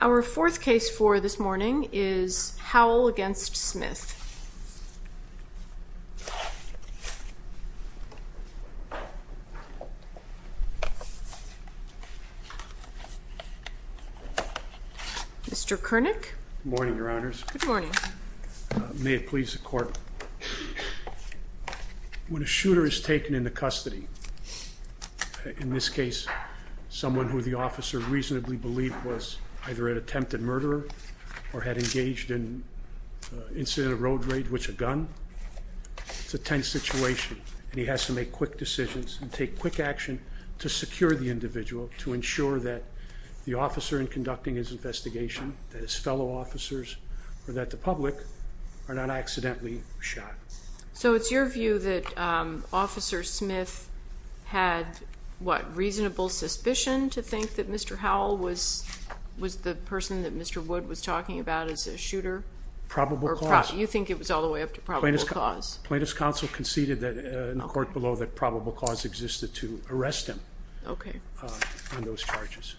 Our fourth case for this morning is Howell v. Smith. When a shooter is taken into custody, in this case someone who the officer reasonably believed was either an attempted murderer or had engaged in an incident of road rape with a gun. It's a tense situation and he has to make quick decisions and take quick action to secure the individual to ensure that the officer in conducting his investigation, that his fellow officers, or that the public, are not accidentally shot. So it's your view that Officer Smith had, what, reasonable suspicion to think that Mr. Howell was the person that Mr. Wood was talking about as a shooter? Probable cause. You think it was all the way up to probable cause? Plaintiff's counsel conceded in the court below that probable cause existed to arrest him on those charges.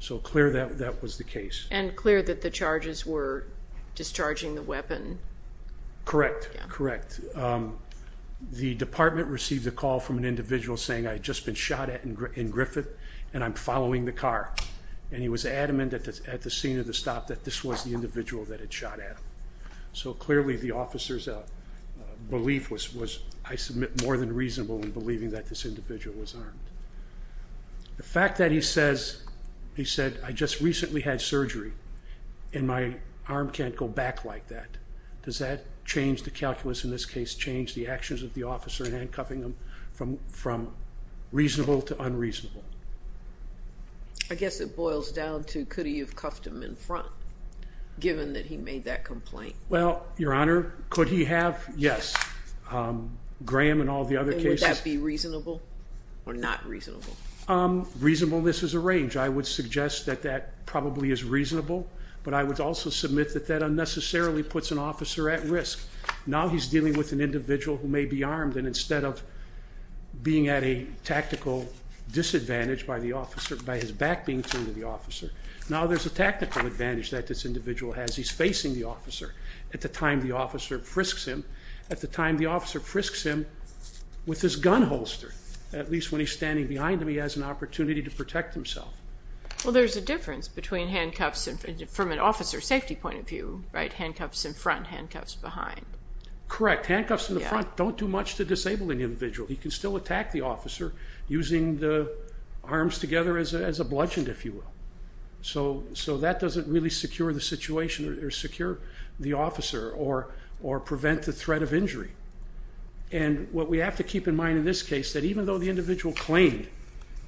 So clear that that was the case. And clear that the charges were discharging the weapon? Correct. Correct. The department received a call from an individual saying I'd just been shot at in Griffith and I'm following the car and he was adamant at the scene of the stop that this was the individual that had shot at him. So clearly the officer's belief was, I submit, more than reasonable in believing that this individual was armed. The fact that he says, he said, I just recently had surgery and my arm can't go back like that. Does that change the calculus in this case, change the actions of the officer in handcuffing him from reasonable to unreasonable? I guess it boils down to could he have cuffed him in front given that he made that complaint? Well, Your Honor, could he have? Yes. Graham and all the other cases. And would that be reasonable or not reasonable? Reasonableness is a range. I would suggest that that probably is reasonable, but I would also submit that that unnecessarily puts an officer at risk. Now he's dealing with an individual who may be armed and instead of being at a tactical disadvantage by the officer, by his back being turned to the officer, now there's a tactical advantage that this individual has. He's facing the officer at the time the officer frisks him, at the time the officer frisks him with his gun holster. At least when he's standing behind him, he has an opportunity to protect himself. Well, there's a difference between handcuffs from an officer's safety point of view, right? Handcuffs in front, handcuffs behind. Correct. Handcuffs in the front don't do much to disable an individual. He can still attack the officer using the arms together as a bludgeon, if you will. So that doesn't really secure the situation or secure the officer or prevent the threat of injury. And what we have to keep in mind in this case, that even though the individual claimed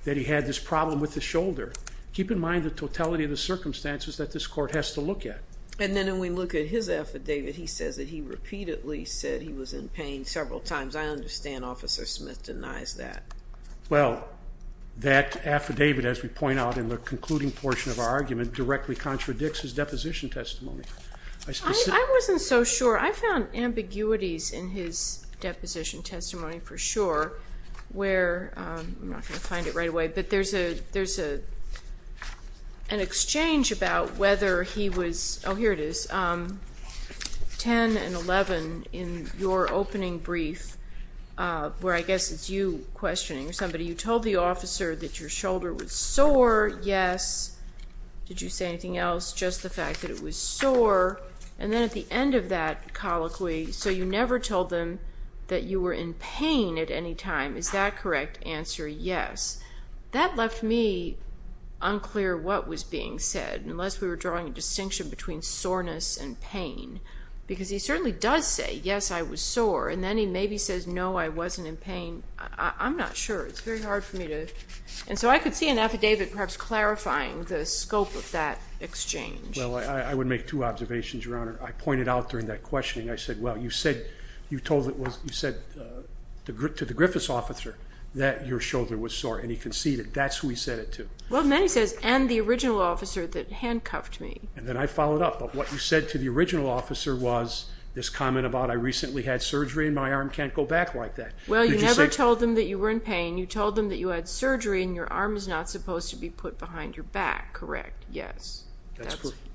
that he had this problem with his shoulder, keep in mind the totality of the circumstances that this court has to look at. And then when we look at his affidavit, he says that he repeatedly said he was in pain several times. I understand Officer Smith denies that. Well, that affidavit, as we point out in the concluding portion of our argument, directly contradicts his deposition testimony. I wasn't so sure. I found ambiguities in his deposition testimony for sure, where, I'm not going to find it Oh, here it is, 10 and 11 in your opening brief, where I guess it's you questioning somebody. You told the officer that your shoulder was sore, yes. Did you say anything else? Just the fact that it was sore. And then at the end of that colloquy, so you never told them that you were in pain at any time. Is that correct? Answer, yes. That left me unclear what was being said, unless we were drawing a distinction between soreness and pain. Because he certainly does say, yes, I was sore, and then he maybe says, no, I wasn't in pain. I'm not sure. It's very hard for me to, and so I could see an affidavit perhaps clarifying the scope of that exchange. Well, I would make two observations, Your Honor. I pointed out during that questioning, I said, well, you said, you told, you said to the Griffiths officer that your shoulder was sore, and he conceded. That's who he said it to. Well, then he says, and the original officer that handcuffed me. And then I followed up. But what you said to the original officer was this comment about, I recently had surgery and my arm can't go back like that. Well, you never told them that you were in pain. You told them that you had surgery and your arm is not supposed to be put behind your back. Correct? Yes.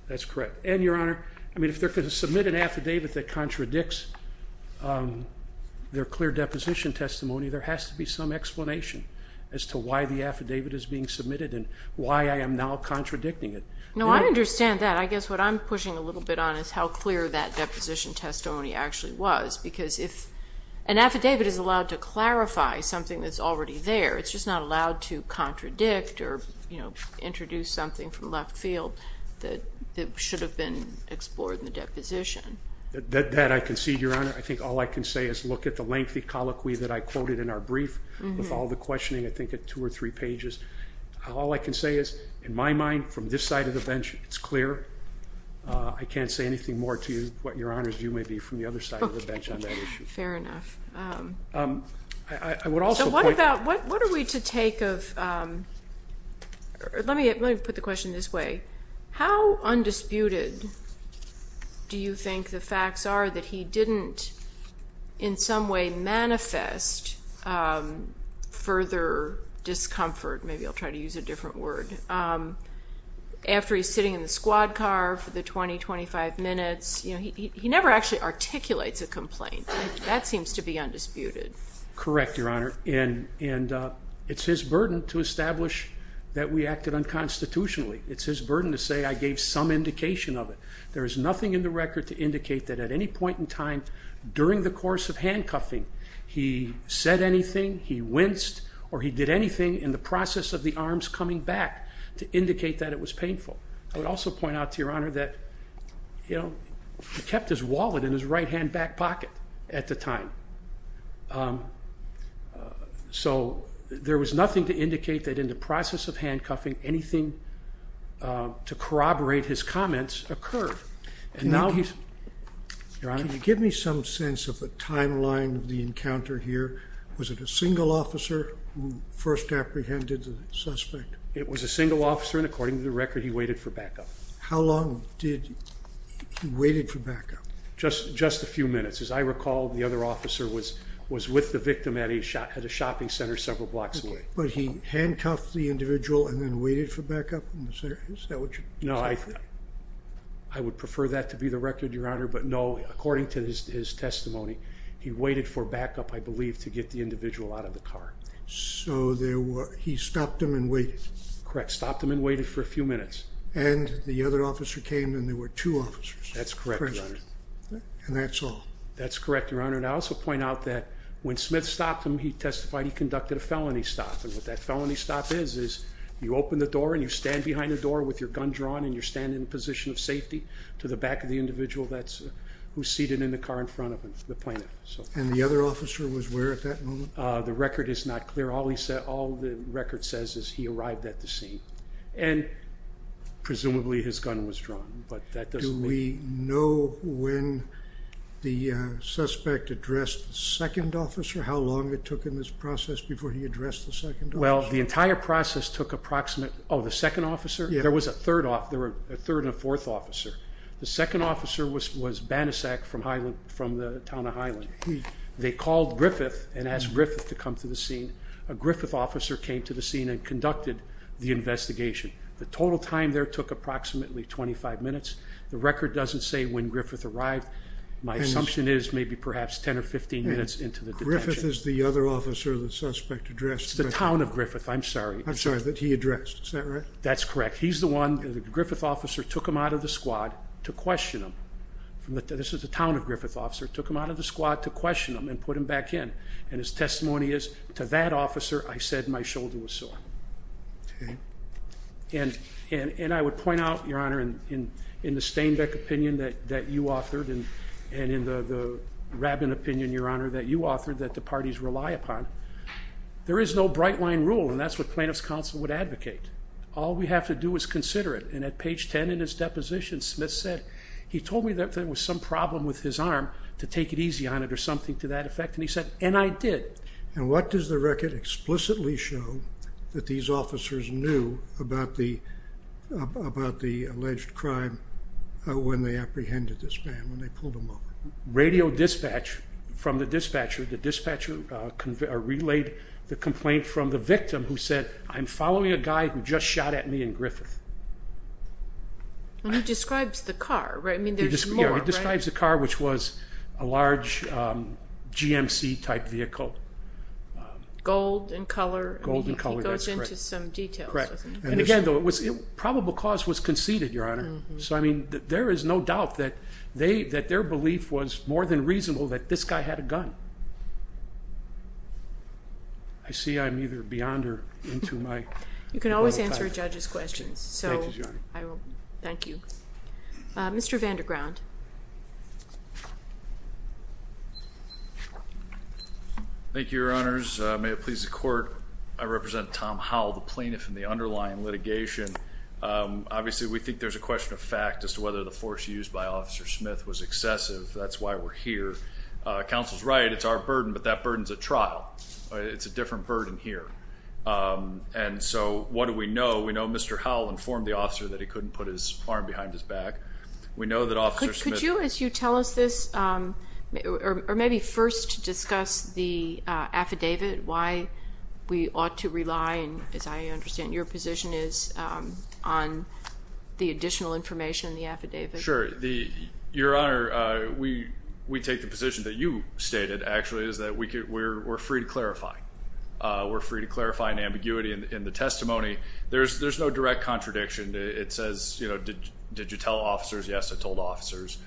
That's correct. And, Your Honor, I mean, if they're going to submit an affidavit that contradicts their clear deposition testimony, there has to be some explanation as to why the affidavit is being submitted and why I am now contradicting it. No, I understand that. I guess what I'm pushing a little bit on is how clear that deposition testimony actually was. Because if an affidavit is allowed to clarify something that's already there, it's just not allowed to contradict or, you know, introduce something from left field that should have been explored in the deposition. That I concede, Your Honor. I think all I can say is look at the lengthy colloquy that I quoted in our brief with all the questioning, I think at two or three pages. All I can say is, in my mind, from this side of the bench, it's clear. I can't say anything more to you, Your Honor, than what you may be from the other side of the bench on that issue. Fair enough. I would also point out... So what about, what are we to take of, let me put the question this way. How undisputed do you think the facts are that he didn't in some way manifest further discomfort, maybe I'll try to use a different word, after he's sitting in the squad car for the 20, 25 minutes, you know, he never actually articulates a complaint. That seems to be undisputed. Correct, Your Honor. And it's his burden to establish that we acted unconstitutionally. It's his burden to say I gave some indication of it. There is nothing in the record to indicate that at any point in time during the course of handcuffing, he said anything, he winced, or he did anything in the process of the arms coming back to indicate that it was painful. I would also point out to Your Honor that, you know, he kept his wallet in his right hand back pocket at the time. So there was nothing to indicate that in the process of handcuffing, anything to corroborate his comments occurred. And now he's... Your Honor, can you give me some sense of the timeline of the encounter here? Was it a single officer who first apprehended the suspect? It was a single officer, and according to the record, he waited for backup. How long did he wait for backup? Just a few minutes. As I recall, the other officer was with the victim at a shopping center several blocks But he handcuffed the individual and then waited for backup? No, I would prefer that to be the record, Your Honor, but no, according to his testimony, he waited for backup, I believe, to get the individual out of the car. So he stopped him and waited? Correct, stopped him and waited for a few minutes. And the other officer came and there were two officers present? That's correct, Your Honor. And that's all? That's correct, Your Honor. And I also point out that when Smith stopped him, he testified he conducted a felony stop. And what that felony stop is, is you open the door and you stand behind the door with your gun drawn and you're standing in a position of safety to the back of the individual who's seated in the car in front of him, the plaintiff. And the other officer was where at that moment? The record is not clear. All the record says is he arrived at the scene. And presumably his gun was drawn. But that doesn't mean... Do we know when the suspect addressed the second officer? How long it took in this process before he addressed the second officer? Well, the entire process took approximate... Oh, the second officer? Yeah. There was a third and a fourth officer. The second officer was Banasak from the town of Highland. They called Griffith and asked Griffith to come to the scene. A Griffith officer came to the scene and conducted the investigation. The total time there took approximately 25 minutes. The record doesn't say when Griffith arrived. My assumption is maybe perhaps 10 or 15 minutes into the detention. Griffith is the other officer the suspect addressed? It's the town of Griffith. I'm sorry. I'm sorry. That he addressed. Is that right? That's correct. He's the one... The Griffith officer took him out of the squad to question him. This is the town of Griffith officer took him out of the squad to question him and put him back in. And his testimony is, to that officer, I said my shoulder was sore. And I would point out, Your Honor, in the Stainbeck opinion that you authored and in the Rabin opinion, Your Honor, that you authored, that the parties rely upon, there is no bright line rule. And that's what plaintiff's counsel would advocate. All we have to do is consider it. And at page 10 in his deposition, Smith said, he told me that there was some problem with his arm to take it easy on it or something to that effect, and he said, and I did. And what does the record explicitly show that these officers knew about the alleged crime when they apprehended this man, when they pulled him over? Radio dispatch from the dispatcher. The dispatcher relayed the complaint from the victim who said, I'm following a guy who just shot at me in Griffith. And he describes the car, right? I mean, there's more. He describes the car, which was a large GMC-type vehicle. Gold in color. Gold in color, that's correct. He goes into some details. Correct. And again, though, probable cause was conceded, Your Honor. So I mean, there is no doubt that their belief was more than reasonable that this guy had a gun. I see I'm either beyond or into my... You can always answer a judge's questions. Thank you, Your Honor. So I will. Thank you. Mr. Vanderground. Thank you, Your Honors. May it please the Court, I represent Tom Howell, the plaintiff in the underlying litigation. Obviously, we think there's a question of fact as to whether the force used by Officer Smith was excessive. That's why we're here. Counsel's right, it's our burden, but that burden's a trial. It's a different burden here. And so what do we know? We know Mr. Howell informed the officer that he couldn't put his arm behind his back. We know that Officer Smith... Could you, as you tell us this, or maybe first discuss the affidavit, why we ought to rely, as I understand, your position is on the additional information in the affidavit. Sure. Your Honor, we take the position that you stated, actually, is that we're free to clarify. We're free to clarify an ambiguity in the testimony. There's no direct contradiction. It says, you know, did you tell officers? Yes, I told officers.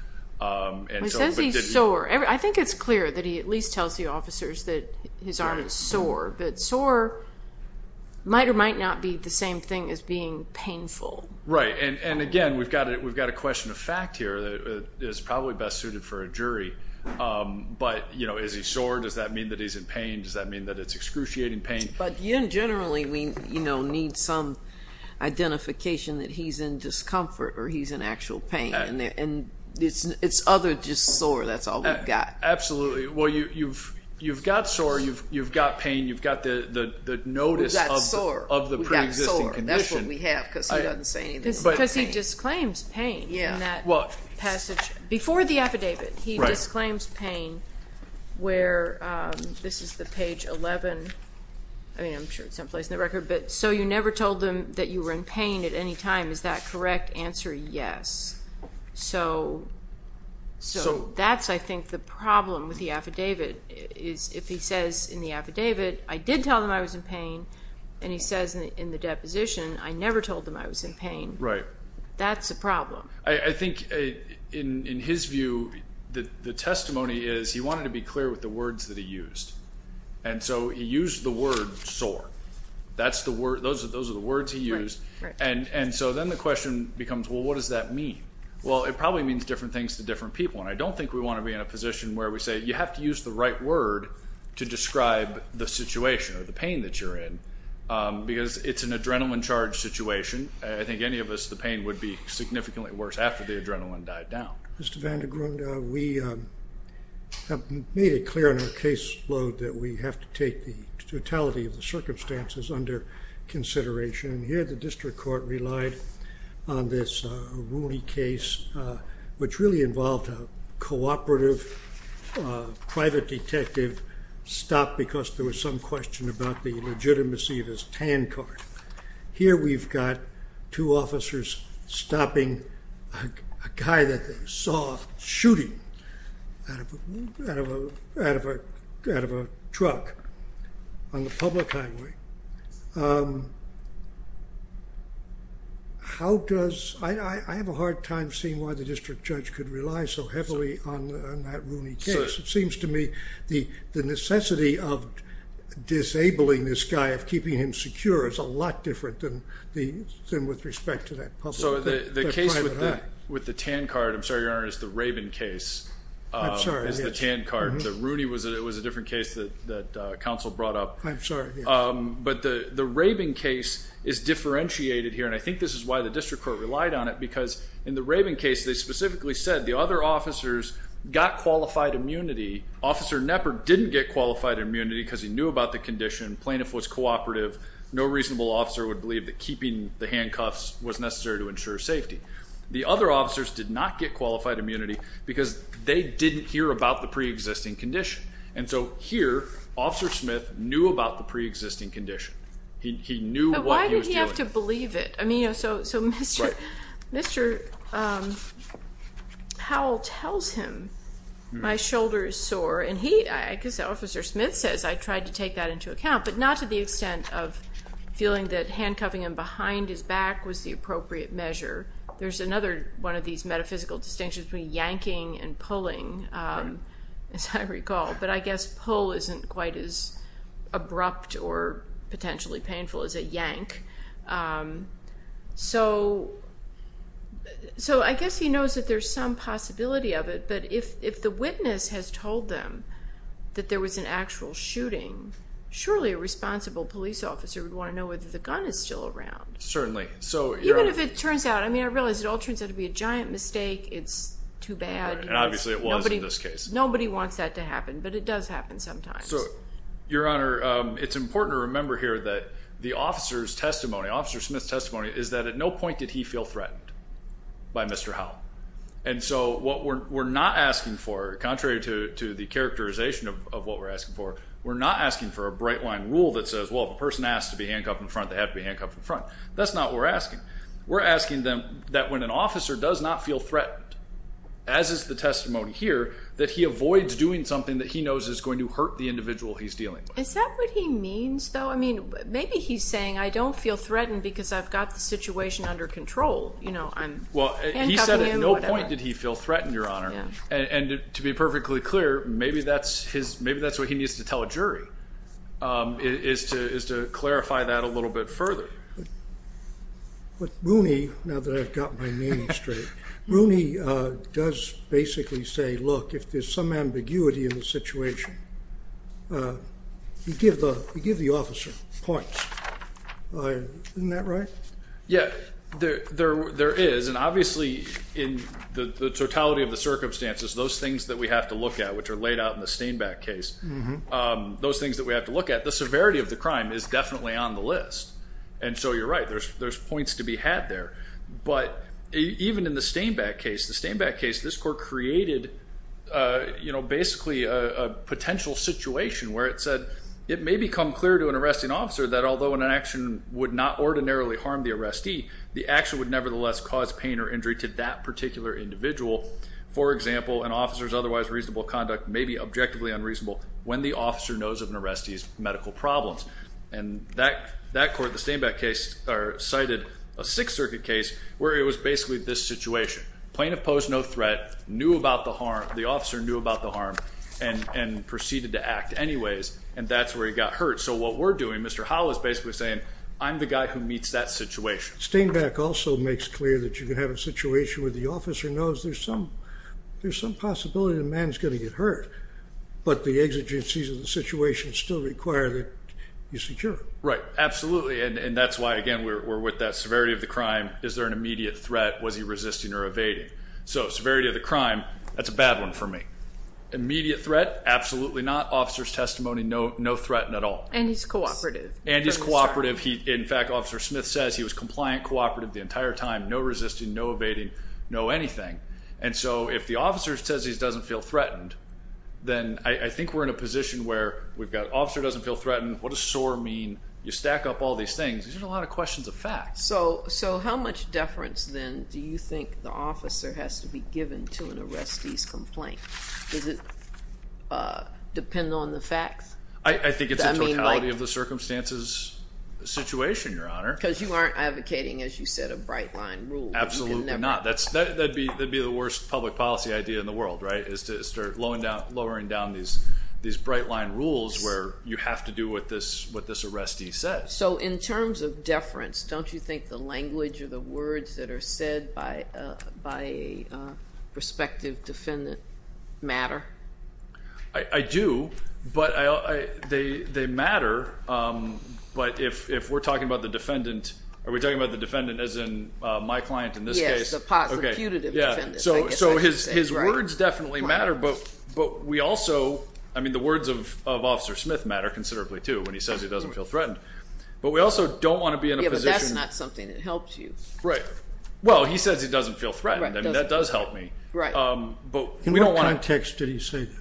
He says he's sore. I think it's clear that he at least tells the officers that his arm is sore, but sore might or might not be the same thing as being painful. Right. And again, we've got a question of fact here that is probably best suited for a jury. But you know, is he sore? Does that mean that he's in pain? Does that mean that it's excruciating pain? But generally, we, you know, need some identification that he's in discomfort or he's in actual pain. And it's other than just sore. That's all we've got. Absolutely. Well, you've got sore. You've got pain. You've got the notice of the pre-existing condition. We've got sore. We've got sore. That's what we have because he doesn't say anything about pain. Because he disclaims pain in that passage before the affidavit. He disclaims pain where, this is the page 11, I mean, I'm sure it's someplace in the record. But, so you never told them that you were in pain at any time. Is that correct answer? Yes. So that's, I think, the problem with the affidavit is if he says in the affidavit, I did tell them I was in pain, and he says in the deposition, I never told them I was in pain. That's a problem. I think in his view, the testimony is he wanted to be clear with the words that he used. And so he used the word sore. That's the word, those are the words he used. And so then the question becomes, well, what does that mean? Well, it probably means different things to different people. And I don't think we want to be in a position where we say you have to use the right word to describe the situation or the pain that you're in. Because it's an adrenaline charged situation. I think any of us, the pain would be significantly worse after the adrenaline died down. Mr. Vandegrund, we have made it clear in our caseload that we have to take the totality of the circumstances under consideration. And here the district court relied on this Rooney case, which really involved a cooperative private detective stop because there was some question about the legitimacy of his TAN card. Here we've got two officers stopping a guy that they saw shooting out of a truck on the public highway. How does, I have a hard time seeing why the district judge could rely so heavily on that Rooney case. It seems to me the necessity of disabling this guy, of keeping him secure, is a lot different than with respect to that public or private eye. The case with the TAN card, I'm sorry, your honor, is the Rabin case, is the TAN card. The Rooney was a different case that counsel brought up. But the Rabin case is differentiated here, and I think this is why the district court relied on it because in the Rabin case they specifically said the other officers got qualified immunity, Officer Knepper didn't get qualified immunity because he knew about the condition, plaintiff was cooperative, no reasonable officer would believe that keeping the handcuffs was necessary to ensure safety. The other officers did not get qualified immunity because they didn't hear about the pre-existing condition. And so here, Officer Smith knew about the pre-existing condition. He knew what he was doing. But why did he have to believe it? I mean, you know, so Mr. Powell tells him, my shoulder is sore, and he, I guess Officer Smith says, I tried to take that into account, but not to the extent of feeling that handcuffing him behind his back was the appropriate measure. There's another one of these metaphysical distinctions between yanking and pulling, as I recall. But I guess pull isn't quite as abrupt or potentially painful as a yank. So I guess he knows that there's some possibility of it, but if the witness has told them that there was an actual shooting, surely a responsible police officer would want to know whether the gun is still around. Certainly. Even if it turns out, I mean, I realize it all turns out to be a giant mistake, it's too bad. And obviously it was in this case. Nobody wants that to happen, but it does happen sometimes. Your Honor, it's important to remember here that the officer's testimony, Officer Smith's testimony is that at no point did he feel threatened by Mr. Howell. And so what we're not asking for, contrary to the characterization of what we're asking for, we're not asking for a bright line rule that says, well, if a person asks to be handcuffed in front, they have to be handcuffed in front. That's not what we're asking. We're asking them that when an officer does not feel threatened, as is the testimony here, that he avoids doing something that he knows is going to hurt the individual he's dealing with. Is that what he means, though? I mean, maybe he's saying, I don't feel threatened because I've got the situation under control. You know, I'm handcuffing him, whatever. Well, he said at no point did he feel threatened, Your Honor. And to be perfectly clear, maybe that's what he needs to tell a jury, is to clarify that a little bit further. But Rooney, now that I've got my name straight, Rooney does basically say, look, if there's some ambiguity in the situation, he'd give the officer points, isn't that right? Yeah, there is. And obviously, in the totality of the circumstances, those things that we have to look at, which are laid out in the Stainback case, those things that we have to look at, the severity of the crime is definitely on the list. And so you're right, there's points to be had there. But even in the Stainback case, the Stainback case, this court created, you know, basically a potential situation where it said, it may become clear to an arresting officer that although an action would not ordinarily harm the arrestee, the action would nevertheless cause pain or injury to that particular individual. For example, an officer's otherwise reasonable conduct may be objectively unreasonable when the officer knows of an arrestee's medical problems. And that court, the Stainback case, cited a Sixth Circuit case where it was basically this situation. Plaintiff posed no threat, knew about the harm, the officer knew about the harm, and proceeded to act anyways. And that's where he got hurt. So what we're doing, Mr. Howell is basically saying, I'm the guy who meets that situation. Stainback also makes clear that you can have a situation where the officer knows there's some possibility the man's going to get hurt. But the exigencies of the situation still require that you secure him. Right. Absolutely. And that's why, again, we're with that severity of the crime. Is there an immediate threat? Was he resisting or evading? So severity of the crime, that's a bad one for me. Immediate threat? Absolutely not. Officer's testimony, no threat at all. And he's cooperative. And he's cooperative. In fact, Officer Smith says he was compliant, cooperative the entire time, no resisting, no evading, no anything. And so if the officer says he doesn't feel threatened, then I think we're in a position where we've got officer doesn't feel threatened, what does SOAR mean? You stack up all these things. These are a lot of questions of facts. So how much deference, then, do you think the officer has to be given to an arrestee's complaint? Does it depend on the facts? I think it's a totality of the circumstances situation, Your Honor. Because you aren't advocating, as you said, a bright line rule. Absolutely not. That would be the worst public policy idea in the world, right, is to start lowering down these bright line rules where you have to do what this arrestee says. So in terms of deference, don't you think the language or the words that are said by a prospective defendant matter? I do. But they matter. But if we're talking about the defendant, are we talking about the defendant as in my client in this case? He's a positive, putative defendant, I guess I could say. So his words definitely matter, but we also, I mean, the words of Officer Smith matter considerably, too, when he says he doesn't feel threatened. But we also don't want to be in a position... Yeah, but that's not something that helps you. Right. Well, he says he doesn't feel threatened. Right. I mean, that does help me. Right. But we don't want to... In what context did he say that?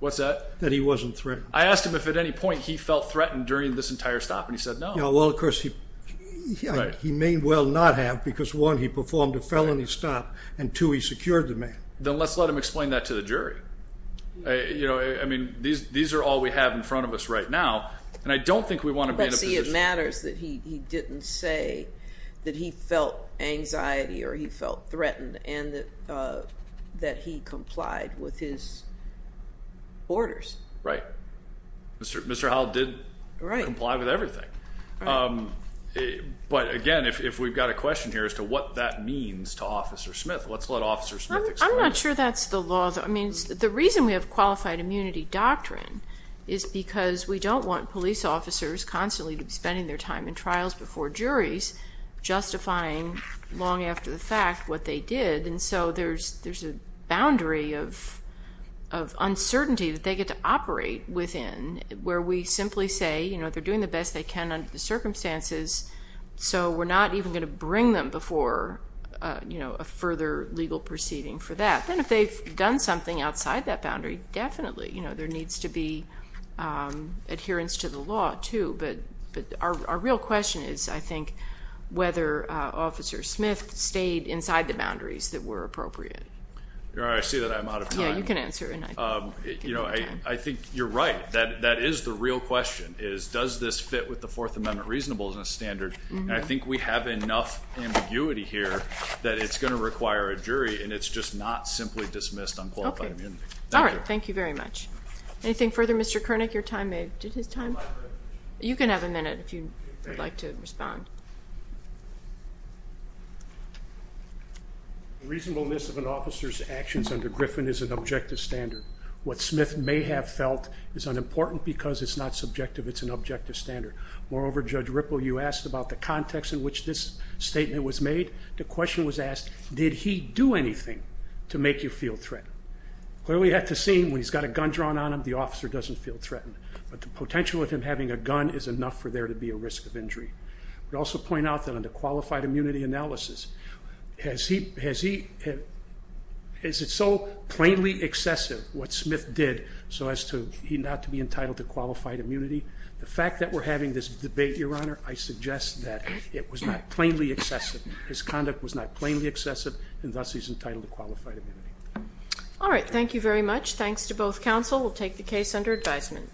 What's that? That he wasn't threatened. I asked him if at any point he felt threatened during this entire stop, and he said no. Well, of course, he may well not have, because one, he performed a felony stop, and two, he secured the man. Then let's let him explain that to the jury. You know, I mean, these are all we have in front of us right now, and I don't think we want to be in a position... But see, it matters that he didn't say that he felt anxiety or he felt threatened, and that he complied with his orders. Right. Mr. Howell did comply with everything. Right. But again, if we've got a question here as to what that means to Officer Smith, let's let Officer Smith explain it. I'm not sure that's the law though. I mean, the reason we have qualified immunity doctrine is because we don't want police officers constantly to be spending their time in trials before juries, justifying long after the fact what they did. And so, there's a boundary of uncertainty that they get to operate within, where we simply say, you know, they're doing the best they can under the circumstances, so we're not even going to bring them before, you know, a further legal proceeding for that. Then if they've done something outside that boundary, definitely, you know, there needs to be adherence to the law too. But our real question is, I think, whether Officer Smith stayed inside the boundaries that were appropriate. You're right. I see that I'm out of time. Yeah, you can answer. You know, I think you're right. That is the real question, is does this fit with the Fourth Amendment reasonableness standard? And I think we have enough ambiguity here that it's going to require a jury, and it's just not simply dismissed on qualified immunity. Okay. All right. Thank you very much. Anything further? Mr. Koenig, your time? You can have a minute if you'd like to respond. The reasonableness of an officer's actions under Griffin is an objective standard. What Smith may have felt is unimportant because it's not subjective, it's an objective standard. Moreover, Judge Ripple, you asked about the context in which this statement was made. The question was asked, did he do anything to make you feel threatened? Clearly, at the scene, when he's got a gun drawn on him, the officer doesn't feel threatened. But the potential of him having a gun is enough for there to be a risk of injury. I would also point out that under qualified immunity analysis, is it so plainly excessive what Smith did so as not to be entitled to qualified immunity? The fact that we're having this debate, Your Honor, I suggest that it was not plainly excessive. His conduct was not plainly excessive, and thus he's entitled to qualified immunity. All right. Thank you very much. Thanks to both counsel. We'll take the case under advisement. Thank you.